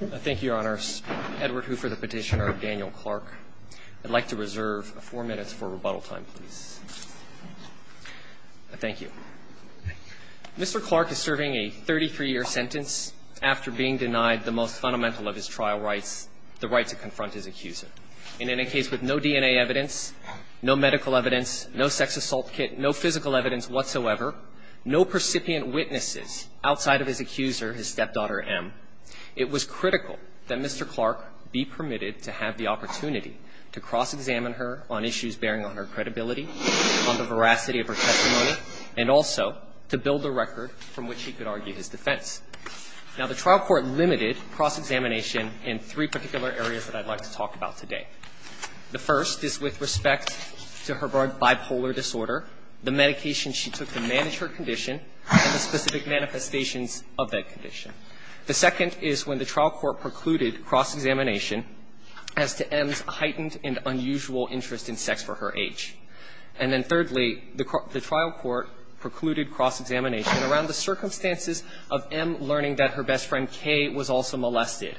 Thank you, Your Honors. Edward Hooper, the petitioner of Daniel Clarke. I'd like to reserve four minutes for rebuttal time, please. Thank you. Mr. Clarke is serving a 33-year sentence after being denied the most fundamental of his trial rights, the right to confront his accuser. And in a case with no DNA evidence, no medical evidence, no sex assault kit, no physical evidence whatsoever, no percipient witnesses outside of his accuser, his stepdaughter, M, it was critical that Mr. Clarke be permitted to have the opportunity to cross-examine her on issues bearing on her credibility, on the veracity of her testimony, and also to build a record from which he could argue his defense. Now, the trial court limited cross-examination in three particular areas that I'd like to talk about today. The first is with respect to her bipolar disorder, the medication she took to manage her condition, and the specific manifestations of that condition. The second is when the trial court precluded cross-examination as to M's heightened and unusual interest in sex for her age. And then thirdly, the trial court precluded cross-examination around the circumstances of M learning that her best friend, K, was also molested.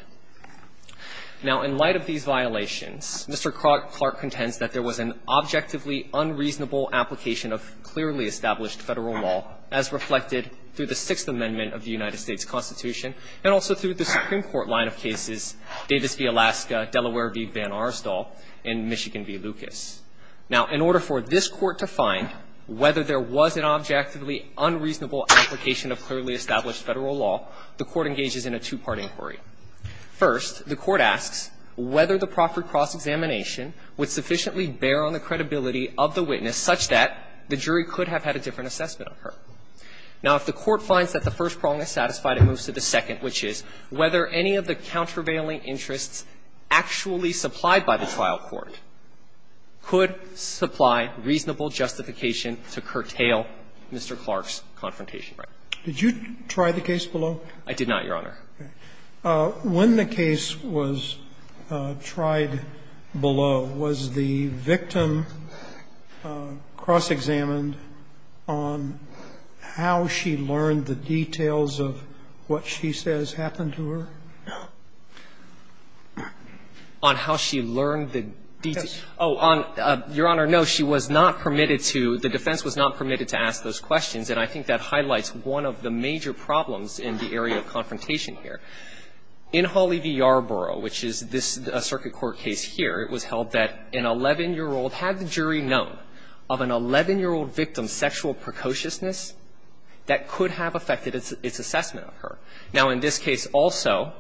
Now, in light of these violations, Mr. Clarke contends that there was an objectively unreasonable application of clearly established Federal law as reflected through the Sixth Amendment of the United States Constitution and also through the Supreme Court line of cases Davis v. Alaska, Delaware v. Van Aerstal, and Michigan v. Lucas. Now, in order for this Court to find whether there was an objectively unreasonable application of clearly established Federal law, the Court engages in a two-part inquiry. First, the Court asks whether the proffered cross-examination would sufficiently bear on the credibility of the witness such that the jury could have had a different assessment of her. Now, if the Court finds that the first prong is satisfied, it moves to the second, which is whether any of the countervailing interests actually supplied by the trial court could supply reasonable justification to curtail Mr. Clarke's confrontation. Now, if the Court finds that the first prong is satisfied, it moves to the second, court could supply reasonable justification to curtail Mr. Clarke's confrontation. Did you try the case below? I did not, Your Honor. Okay. When the case was tried below, was the victim cross-examined on how she learned the details of what she says happened to her? On how she learned the details? Yes. Oh, Your Honor, no. She was not permitted to — the defense was not permitted to ask those questions, and I think that highlights one of the major problems in the area of confrontation here. In Hawley v. Yarborough, which is this circuit court case here, it was held that an 11-year-old — had the jury known of an 11-year-old victim's sexual precociousness that could have affected its assessment of her. Now, in this case also,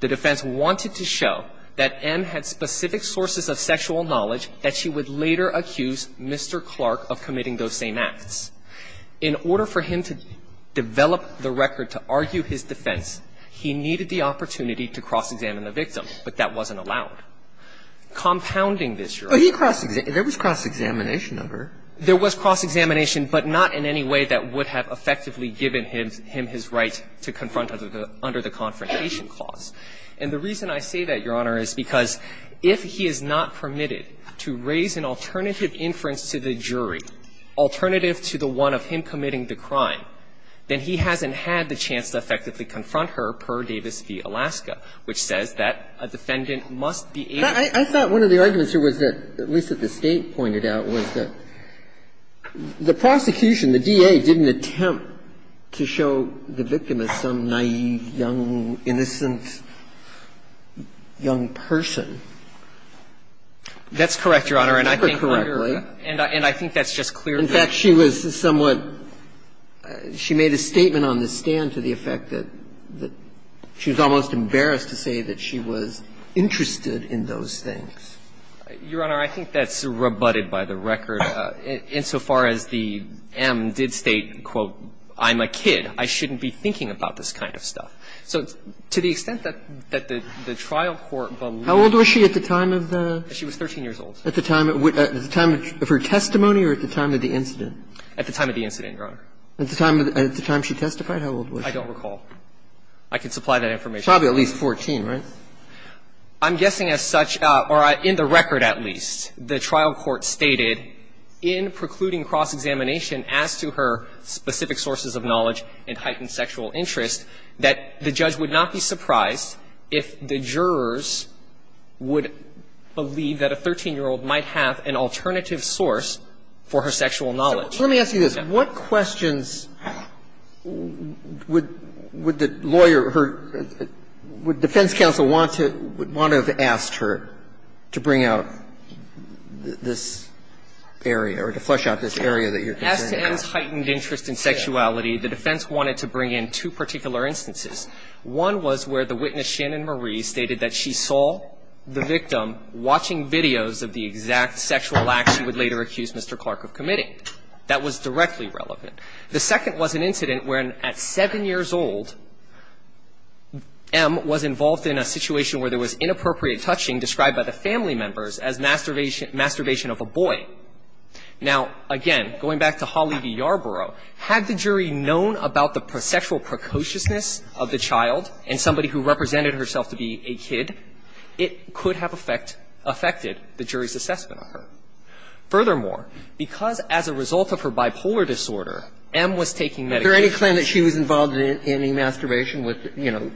the defense wanted to show that M had specific sources of sexual knowledge that she would later accuse Mr. Clarke of committing those same acts. In order for him to develop the record to argue his defense, he needed the opportunity to cross-examine the victim, but that wasn't allowed. Compounding this, Your Honor — There was cross-examination, but not in any way that would have effectively given him his right to confront under the confrontation clause. And the reason I say that, Your Honor, is because if he is not permitted to raise an alternative inference to the jury, alternative to the one of him committing the crime, then he hasn't had the chance to effectively confront her, per Davis v. Alaska, which says that a defendant must be able to — The prosecution, the DA, didn't attempt to show the victim as some naïve, young, innocent, young person. That's correct, Your Honor, and I think that's just clear that — In fact, she was somewhat — she made a statement on the stand to the effect that she was almost embarrassed to say that she was interested in those things. Your Honor, I think that's rebutted by the record. Insofar as the M did state, quote, I'm a kid, I shouldn't be thinking about this kind of stuff. So to the extent that the trial court believed — How old was she at the time of the — She was 13 years old. At the time of her testimony or at the time of the incident? At the time of the incident, Your Honor. At the time she testified, how old was she? I don't recall. I can supply that information. Probably at least 14, right? I'm guessing as such, or in the record at least, the trial court stated in precluding cross-examination as to her specific sources of knowledge and heightened sexual interest, that the judge would not be surprised if the jurors would believe that a 13-year-old might have an alternative source for her sexual knowledge. So let me ask you this. What questions would the lawyer, her — would defense counsel want to ask her? Would they want to — would want to have asked her to bring out this area or to flesh out this area that you're considering? As to M's heightened interest in sexuality, the defense wanted to bring in two particular instances. One was where the witness, Shannon Marie, stated that she saw the victim watching videos of the exact sexual act she would later accuse Mr. Clark of committing. That was directly relevant. The second was an incident where, at 7 years old, M was involved in a situation where there was inappropriate touching described by the family members as masturbation of a boy. Now, again, going back to Holly v. Yarborough, had the jury known about the sexual precociousness of the child and somebody who represented herself to be a kid, it could Furthermore, because as a result of her bipolar disorder, M was taking medication Is there any claim that she was involved in any masturbation with, you know,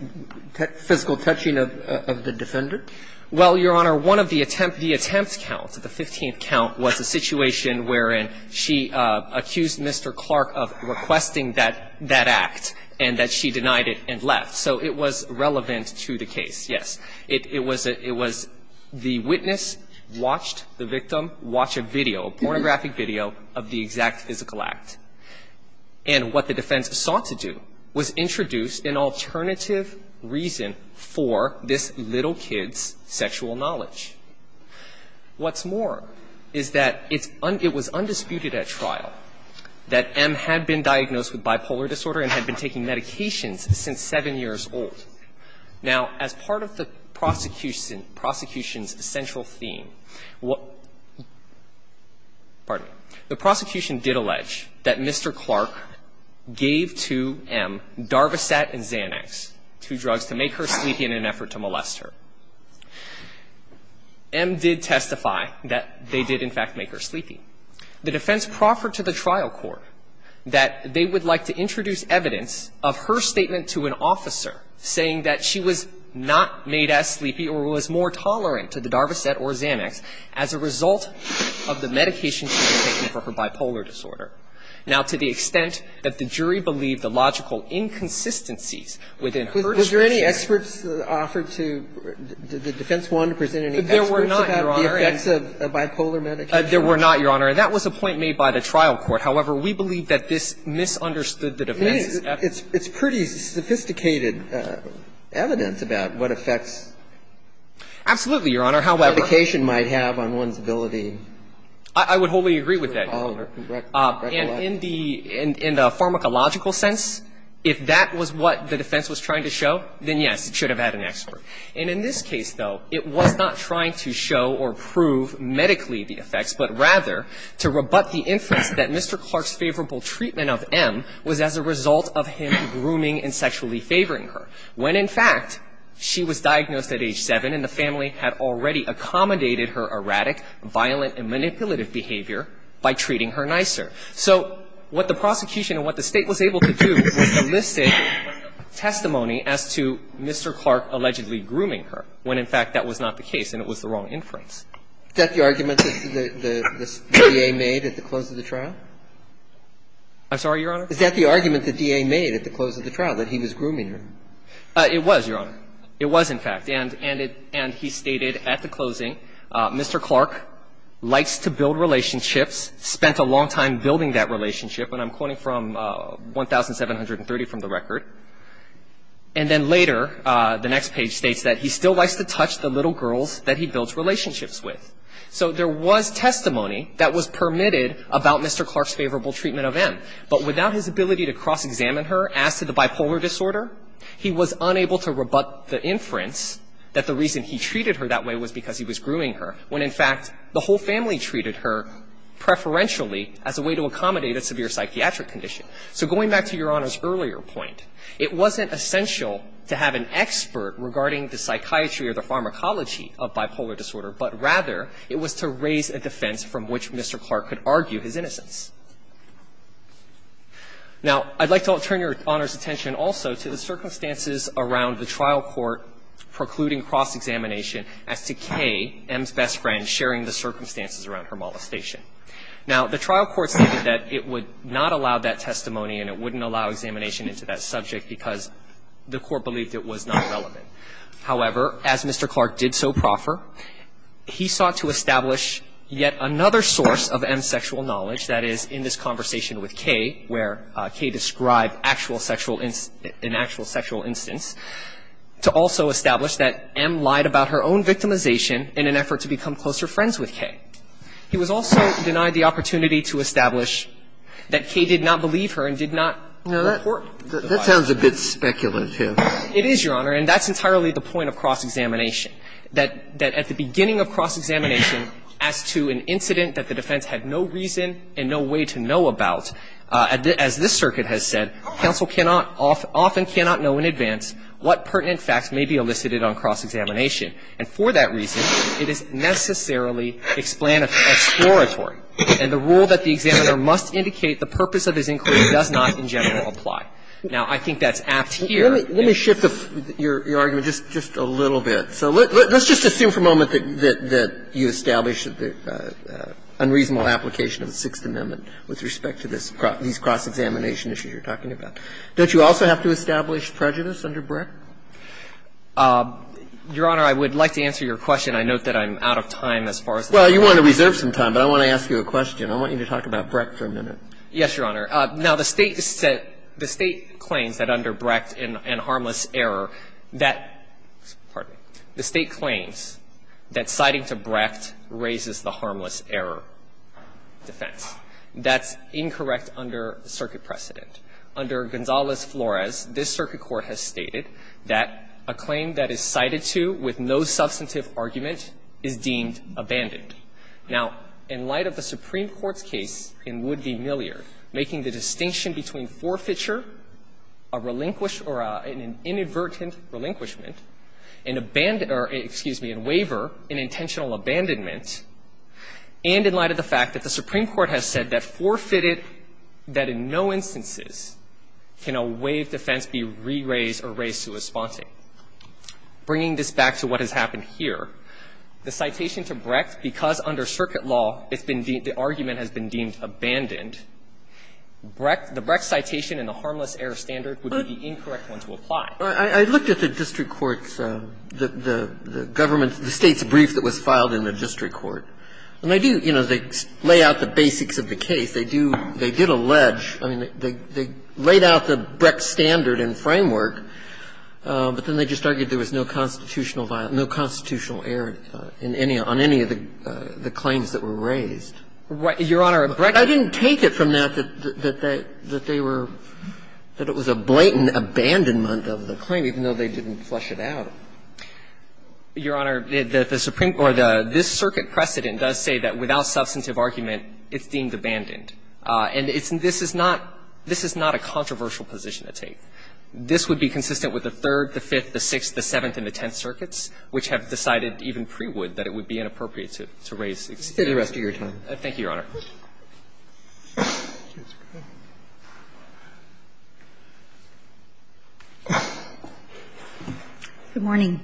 physical touching of the defendant? Well, Your Honor, one of the attempt — the attempt count, the 15th count, was a situation wherein she accused Mr. Clark of requesting that — that act and that she denied it and left. So it was relevant to the case, yes. It was — it was — the witness watched the victim watch a video, a pornographic video, of the exact physical act. And what the defense sought to do was introduce an alternative reason for this little kid's sexual knowledge. What's more is that it's — it was undisputed at trial that M had been diagnosed with bipolar disorder and had been taking medications since 7 years old. Now, as part of the prosecution — prosecution's central theme, what — pardon me — the prosecution did allege that Mr. Clark gave to M Darvissat and Xanax, two drugs, to make her sleepy in an effort to molest her. M did testify that they did, in fact, make her sleepy. The defense proffered to the trial court that they would like to introduce evidence of her statement to an officer saying that she was not made as sleepy or was more tolerant to the Darvissat or Xanax as a result of the medication she was taking for her bipolar disorder. Now, to the extent that the jury believed the logical inconsistencies within her — Was there any experts offered to — did the defense want to present any experts about the effects of a bipolar medication? There were not, Your Honor. And that was a point made by the trial court. However, we believe that this misunderstood the defense. It's pretty sophisticated evidence about what effects — Absolutely, Your Honor. However —— medication might have on one's ability — I would wholly agree with that, Your Honor. And in the pharmacological sense, if that was what the defense was trying to show, then, yes, it should have had an expert. And in this case, though, it was not trying to show or prove medically the effects, but rather to rebut the inference that Mr. Clark's favorable treatment of M was as a result of him grooming and sexually favoring her, when, in fact, she was diagnosed at age 7, and the family had already accommodated her erratic, violent, and manipulative behavior by treating her nicer. So what the prosecution and what the State was able to do was to list it as testimony as to Mr. Clark allegedly grooming her, when, in fact, that was not the case and it was the wrong inference. Is that the argument that the DA made at the close of the trial? I'm sorry, Your Honor? Is that the argument that the DA made at the close of the trial, that he was grooming her? It was, Your Honor. It was, in fact. And he stated at the closing, Mr. Clark likes to build relationships, spent a long time building that relationship, and I'm quoting from 1730 from the record. And then later, the next page states that he still likes to touch the little girls that he builds relationships with. So there was testimony that was permitted about Mr. Clark's favorable treatment of M. But without his ability to cross-examine her, as to the bipolar disorder, he was unable to rebut the inference that the reason he treated her that way was because he was grooming her, when, in fact, the whole family treated her preferentially as a way to accommodate a severe psychiatric condition. So going back to Your Honor's earlier point, it wasn't essential to have an expert regarding the psychiatry or the pharmacology of bipolar disorder, but rather it was to raise a defense from which Mr. Clark could argue his innocence. Now, I'd like to turn Your Honor's attention also to the circumstances around the trial court precluding cross-examination as to K, M's best friend, sharing the circumstances around her molestation. Now, the trial court stated that it would not allow that testimony and it wouldn't allow examination into that subject because the court believed it was not relevant. However, as Mr. Clark did so proffer, he sought to establish yet another source of M's sexual knowledge, that is, in this conversation with K, where K described actual sexual – an actual sexual instance, to also establish that M lied about her own victimization in an effort to become closer friends with K. He was also denied the opportunity to establish that K did not believe her and did not report the lie. That sounds a bit speculative. It is, Your Honor, and that's entirely the point of cross-examination, that at the beginning of cross-examination, as to an incident that the defense had no reason and no way to know about, as this circuit has said, counsel cannot – often cannot know in advance what pertinent facts may be elicited on cross-examination. And for that reason, it is necessarily explanatory and the rule that the examiner must indicate the purpose of his inquiry does not, in general, apply. Now, I think that's apt here. Let me shift your argument just a little bit. So let's just assume for a moment that you established the unreasonable application of the Sixth Amendment with respect to this – these cross-examination issues you're talking about. Don't you also have to establish prejudice under Brecht? Your Honor, I would like to answer your question. I note that I'm out of time as far as this goes. Well, you want to reserve some time, but I want to ask you a question. I want you to talk about Brecht for a minute. Yes, Your Honor. Now, the State claims that under Brecht and harmless error that – pardon me. The State claims that citing to Brecht raises the harmless error defense. That's incorrect under circuit precedent. Under Gonzales-Flores, this circuit court has stated that a claim that is cited to with no substantive argument is deemed abandoned. Now, in light of the Supreme Court's case in Wood v. Millyer, making the distinction between forfeiture, a relinquished or an inadvertent relinquishment, an abandon – or, excuse me, a waiver, an intentional abandonment, and in light of the fact that the Supreme Court has said that forfeited, that in no instances can a waived defense be re-raised or raised to a sponsoring. Bringing this back to what has happened here, the citation to Brecht, because under circuit law it's been deemed – the argument has been deemed abandoned, the Brecht citation and the harmless error standard would be the incorrect one to apply. I looked at the district court's, the government's, the State's brief that was filed in the district court, and they do, you know, they lay out the basics of the case. They do – they did allege – I mean, they laid out the Brecht standard and framework, but then they just argued there was no constitutional violence, no constitutional error in any – on any of the claims that were raised. Your Honor, Brecht – I didn't take it from that, that they were – that it was a blatant abandonment of the claim, even though they didn't flush it out. Your Honor, the Supreme Court – this circuit precedent does say that without substantive argument, it's deemed abandoned. And it's – this is not – this is not a controversial position to take. This would be consistent with the Third, the Fifth, the Sixth, the Seventh, and the Tenth circuits, which have decided, even pre-Wood, that it would be inappropriate to raise it. It's the rest of your time. Thank you, Your Honor. Good morning.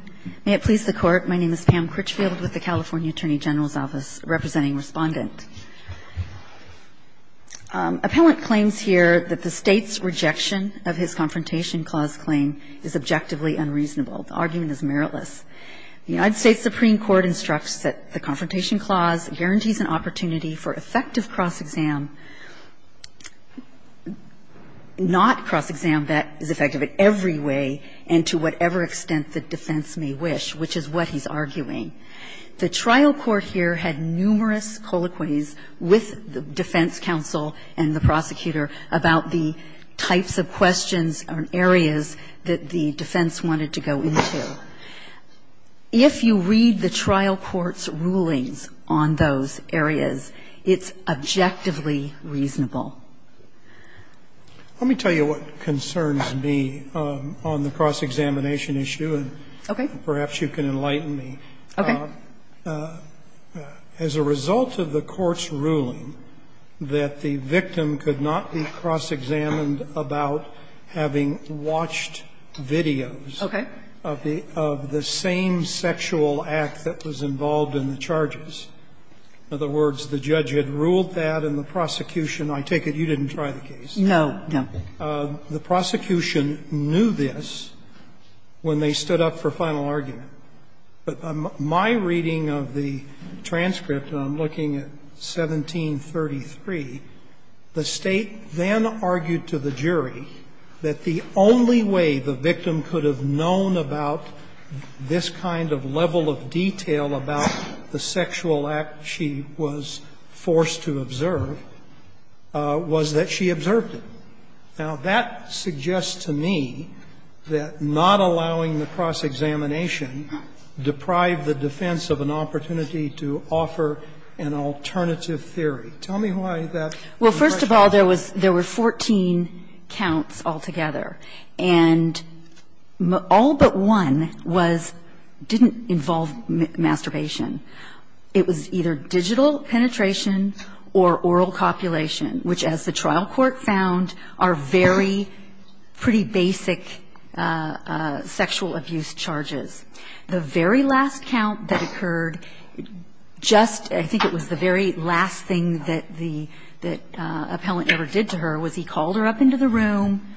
May it please the Court. My name is Pam Critchfield with the California Attorney General's Office, representing Respondent. Appellant claims here that the State's rejection of his Confrontation Clause claim is objectively unreasonable. The argument is meritless. The United States Supreme Court instructs that the Confrontation Clause guarantees an opportunity for effective cross-exam, not cross-exam that is effective in every way and to whatever extent the defense may wish, which is what he's arguing. The trial court here had numerous colloquies with the defense counsel and the prosecutor about the types of questions or areas that the defense wanted to go into. If you read the trial court's rulings on those areas, it's objectively reasonable. Let me tell you what concerns me on the cross-examination issue. Okay. And perhaps you can enlighten me. Okay. As a result of the court's ruling that the victim could not be cross-examined about having watched videos of the same sexual act that was involved in the charges, in other words, the judge had ruled that and the prosecution – I take it you didn't try the case. No, no. The prosecution knew this when they stood up for final argument. But my reading of the transcript, and I'm looking at 1733, the State then argued to the jury that the only way the victim could have known about this kind of level of detail about the sexual act she was forced to observe was that she observed it. Now, that suggests to me that not allowing the cross-examination deprived the defense of an opportunity to offer an alternative theory. Tell me why that was a question. Well, first of all, there was – there were 14 counts altogether. And all but one was – didn't involve masturbation. It was either digital penetration or oral copulation, which, as the trial court found, are very pretty basic sexual abuse charges. The very last count that occurred, just – I think it was the very last thing that the appellant ever did to her was he called her up into the room,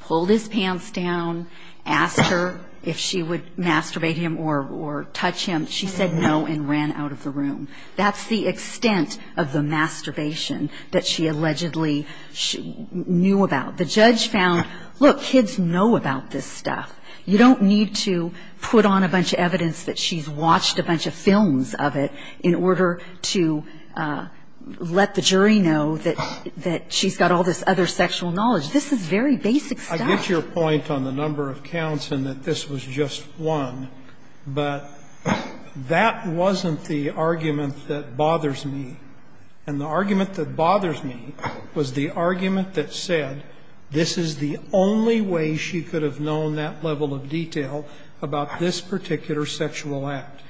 pulled his pants down, asked her if she would masturbate him or touch him. She said no and ran out of the room. That's the extent of the masturbation that she allegedly knew about. The judge found, look, kids know about this stuff. You don't need to put on a bunch of evidence that she's watched a bunch of films of it in order to let the jury know that she's got all this other sexual knowledge. This is very basic stuff. I get your point on the number of counts and that this was just one, but that wasn't the argument that bothers me. And the argument that bothers me was the argument that said this is the only way she could have known that level of detail about this particular sexual act,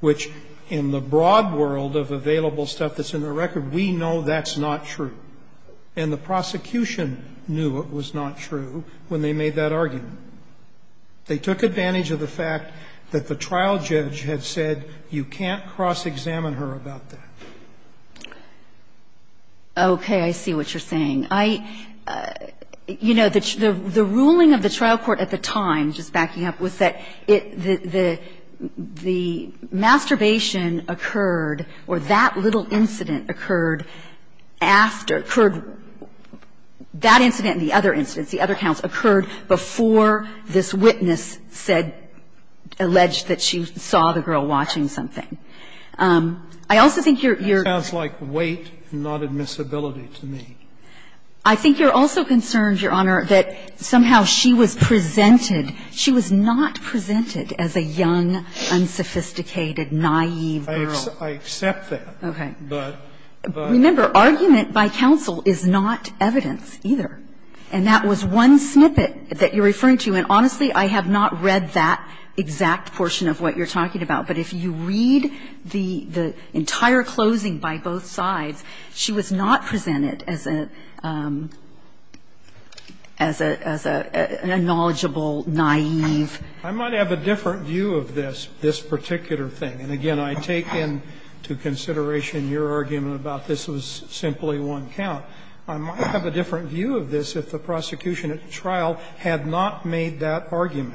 which in the broad world of available stuff that's in the record, we know that's not true. And the prosecution knew it was not true when they made that argument. They took advantage of the fact that the trial judge had said you can't cross-examine her about that. Okay. I see what you're saying. I you know, the ruling of the trial court at the time, just backing up, was that the masturbation occurred or that little incident occurred after, occurred, that incident and the other incidents, the other counts, occurred before the trial made that argument before this witness said, alleged that she saw the girl watching I also think you're, you're That sounds like weight, not admissibility to me. I think you're also concerned, Your Honor, that somehow she was presented, she was not presented as a young, unsophisticated, naive girl. I accept that. Okay. But, but Remember, argument by counsel is not evidence either. And that was one snippet that you're referring to. And honestly, I have not read that exact portion of what you're talking about. But if you read the entire closing by both sides, she was not presented as a, as a, as a knowledgeable, naive I might have a different view of this, this particular thing. And again, I take into consideration your argument about this was simply one count. I might have a different view of this if the prosecution at the trial had not made that argument.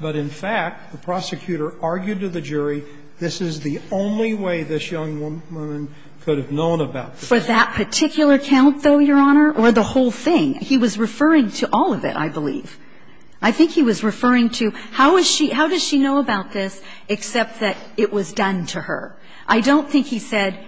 But in fact, the prosecutor argued to the jury, this is the only way this young woman could have known about this. For that particular count, though, Your Honor, or the whole thing? He was referring to all of it, I believe. I think he was referring to, how is she, how does she know about this except that it was done to her? I don't think he said,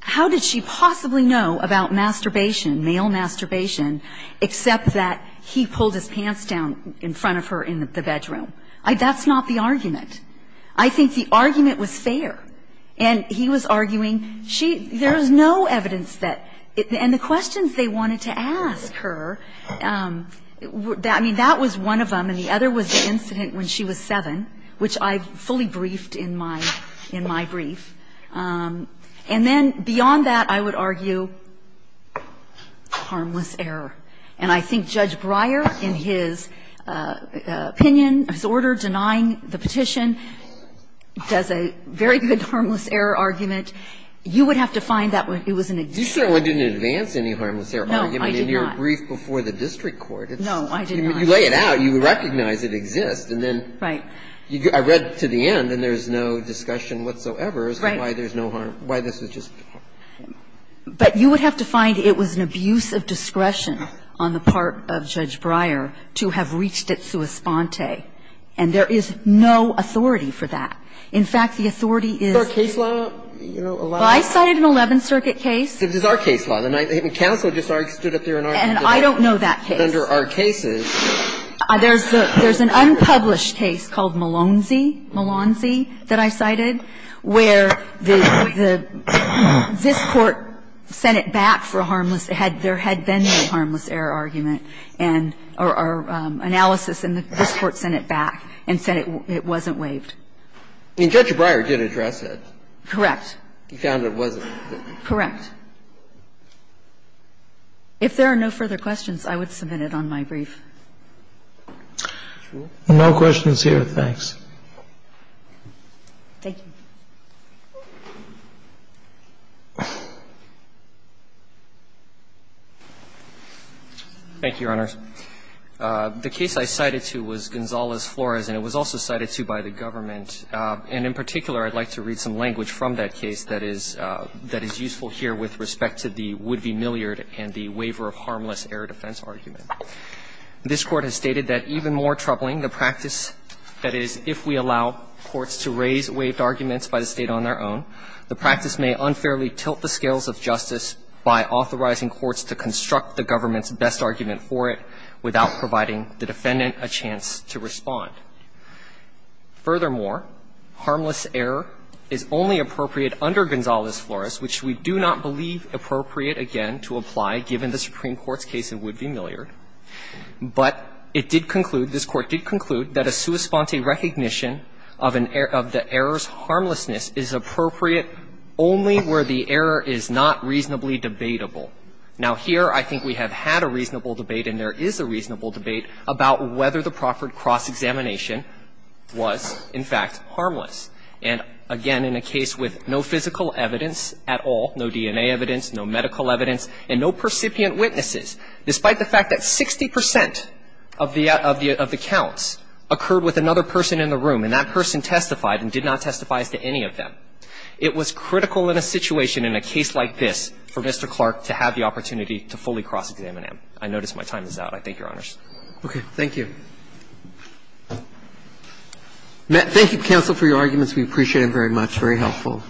how did she possibly know about masturbation, male masturbation, except that he pulled his pants down in front of her in the bedroom. I, that's not the argument. I think the argument was fair. And he was arguing, she, there's no evidence that, and the questions they wanted to ask her, I mean, that was one of them. And the other was the incident when she was 7, which I fully briefed in my, in my brief. And then beyond that, I would argue, harmless error. And I think Judge Breyer, in his opinion, his order denying the petition, does a very good harmless error argument. You would have to find that it was an example. You certainly didn't advance any harmless error argument in your brief before the district court. No, I did not. You lay it out, you recognize it exists, and then I read to the end, and there's no discussion whatsoever as to why there's no harm, why this was just. But you would have to find it was an abuse of discretion on the part of Judge Breyer to have reached it sua sponte, and there is no authority for that. In fact, the authority is. Is there a case law, you know, allowing? Well, I cited an Eleventh Circuit case. It's our case law. The Hitman Council just stood up there and argued it. And I don't know that case. But under our cases. There's the, there's an unpublished case called Malonzy, Malonzy, that I cited, where the, the, this Court sent it back for a harmless, had, there had been no harmless error argument and, or analysis, and this Court sent it back and said it, it wasn't waived. I mean, Judge Breyer did address it. Correct. He found it wasn't. Correct. If there are no further questions, I would submit it on my brief. No questions here. Thanks. Thank you. Thank you, Your Honors. The case I cited to was Gonzalez-Flores, and it was also cited to by the government. And in particular, I'd like to read some language from that case that is, that is useful here with respect to the would-be milliard and the waiver of harmless error defense argument. This Court has stated that, even more troubling, the practice, that is, if we allow courts to raise waived arguments by the State on their own, the practice may unfairly tilt the scales of justice by authorizing courts to construct the government's best argument for it without providing the defendant a chance to respond. Furthermore, harmless error is only appropriate under Gonzalez-Flores, which we do not believe appropriate, again, to apply, given the Supreme Court's case in would-be milliard. But it did conclude, this Court did conclude, that a sua sponte recognition of an error of the error's harmlessness is appropriate only where the error is not reasonably debatable. Now, here I think we have had a reasonable debate, and there is a reasonable debate about whether the proffered cross-examination was, in fact, harmless. And, again, in a case with no physical evidence at all, no DNA evidence, no medical evidence, and no percipient witnesses, despite the fact that 60 percent of the accounts occurred with another person in the room, and that person testified and did not testify as to any of them, it was critical in a situation in a case like this for Mr. Clark to have the opportunity to fully cross-examine him. I notice my time is out. I thank Your Honors. Roberts. Thank you. Thank you, counsel, for your arguments. We appreciate them very much. Very helpful.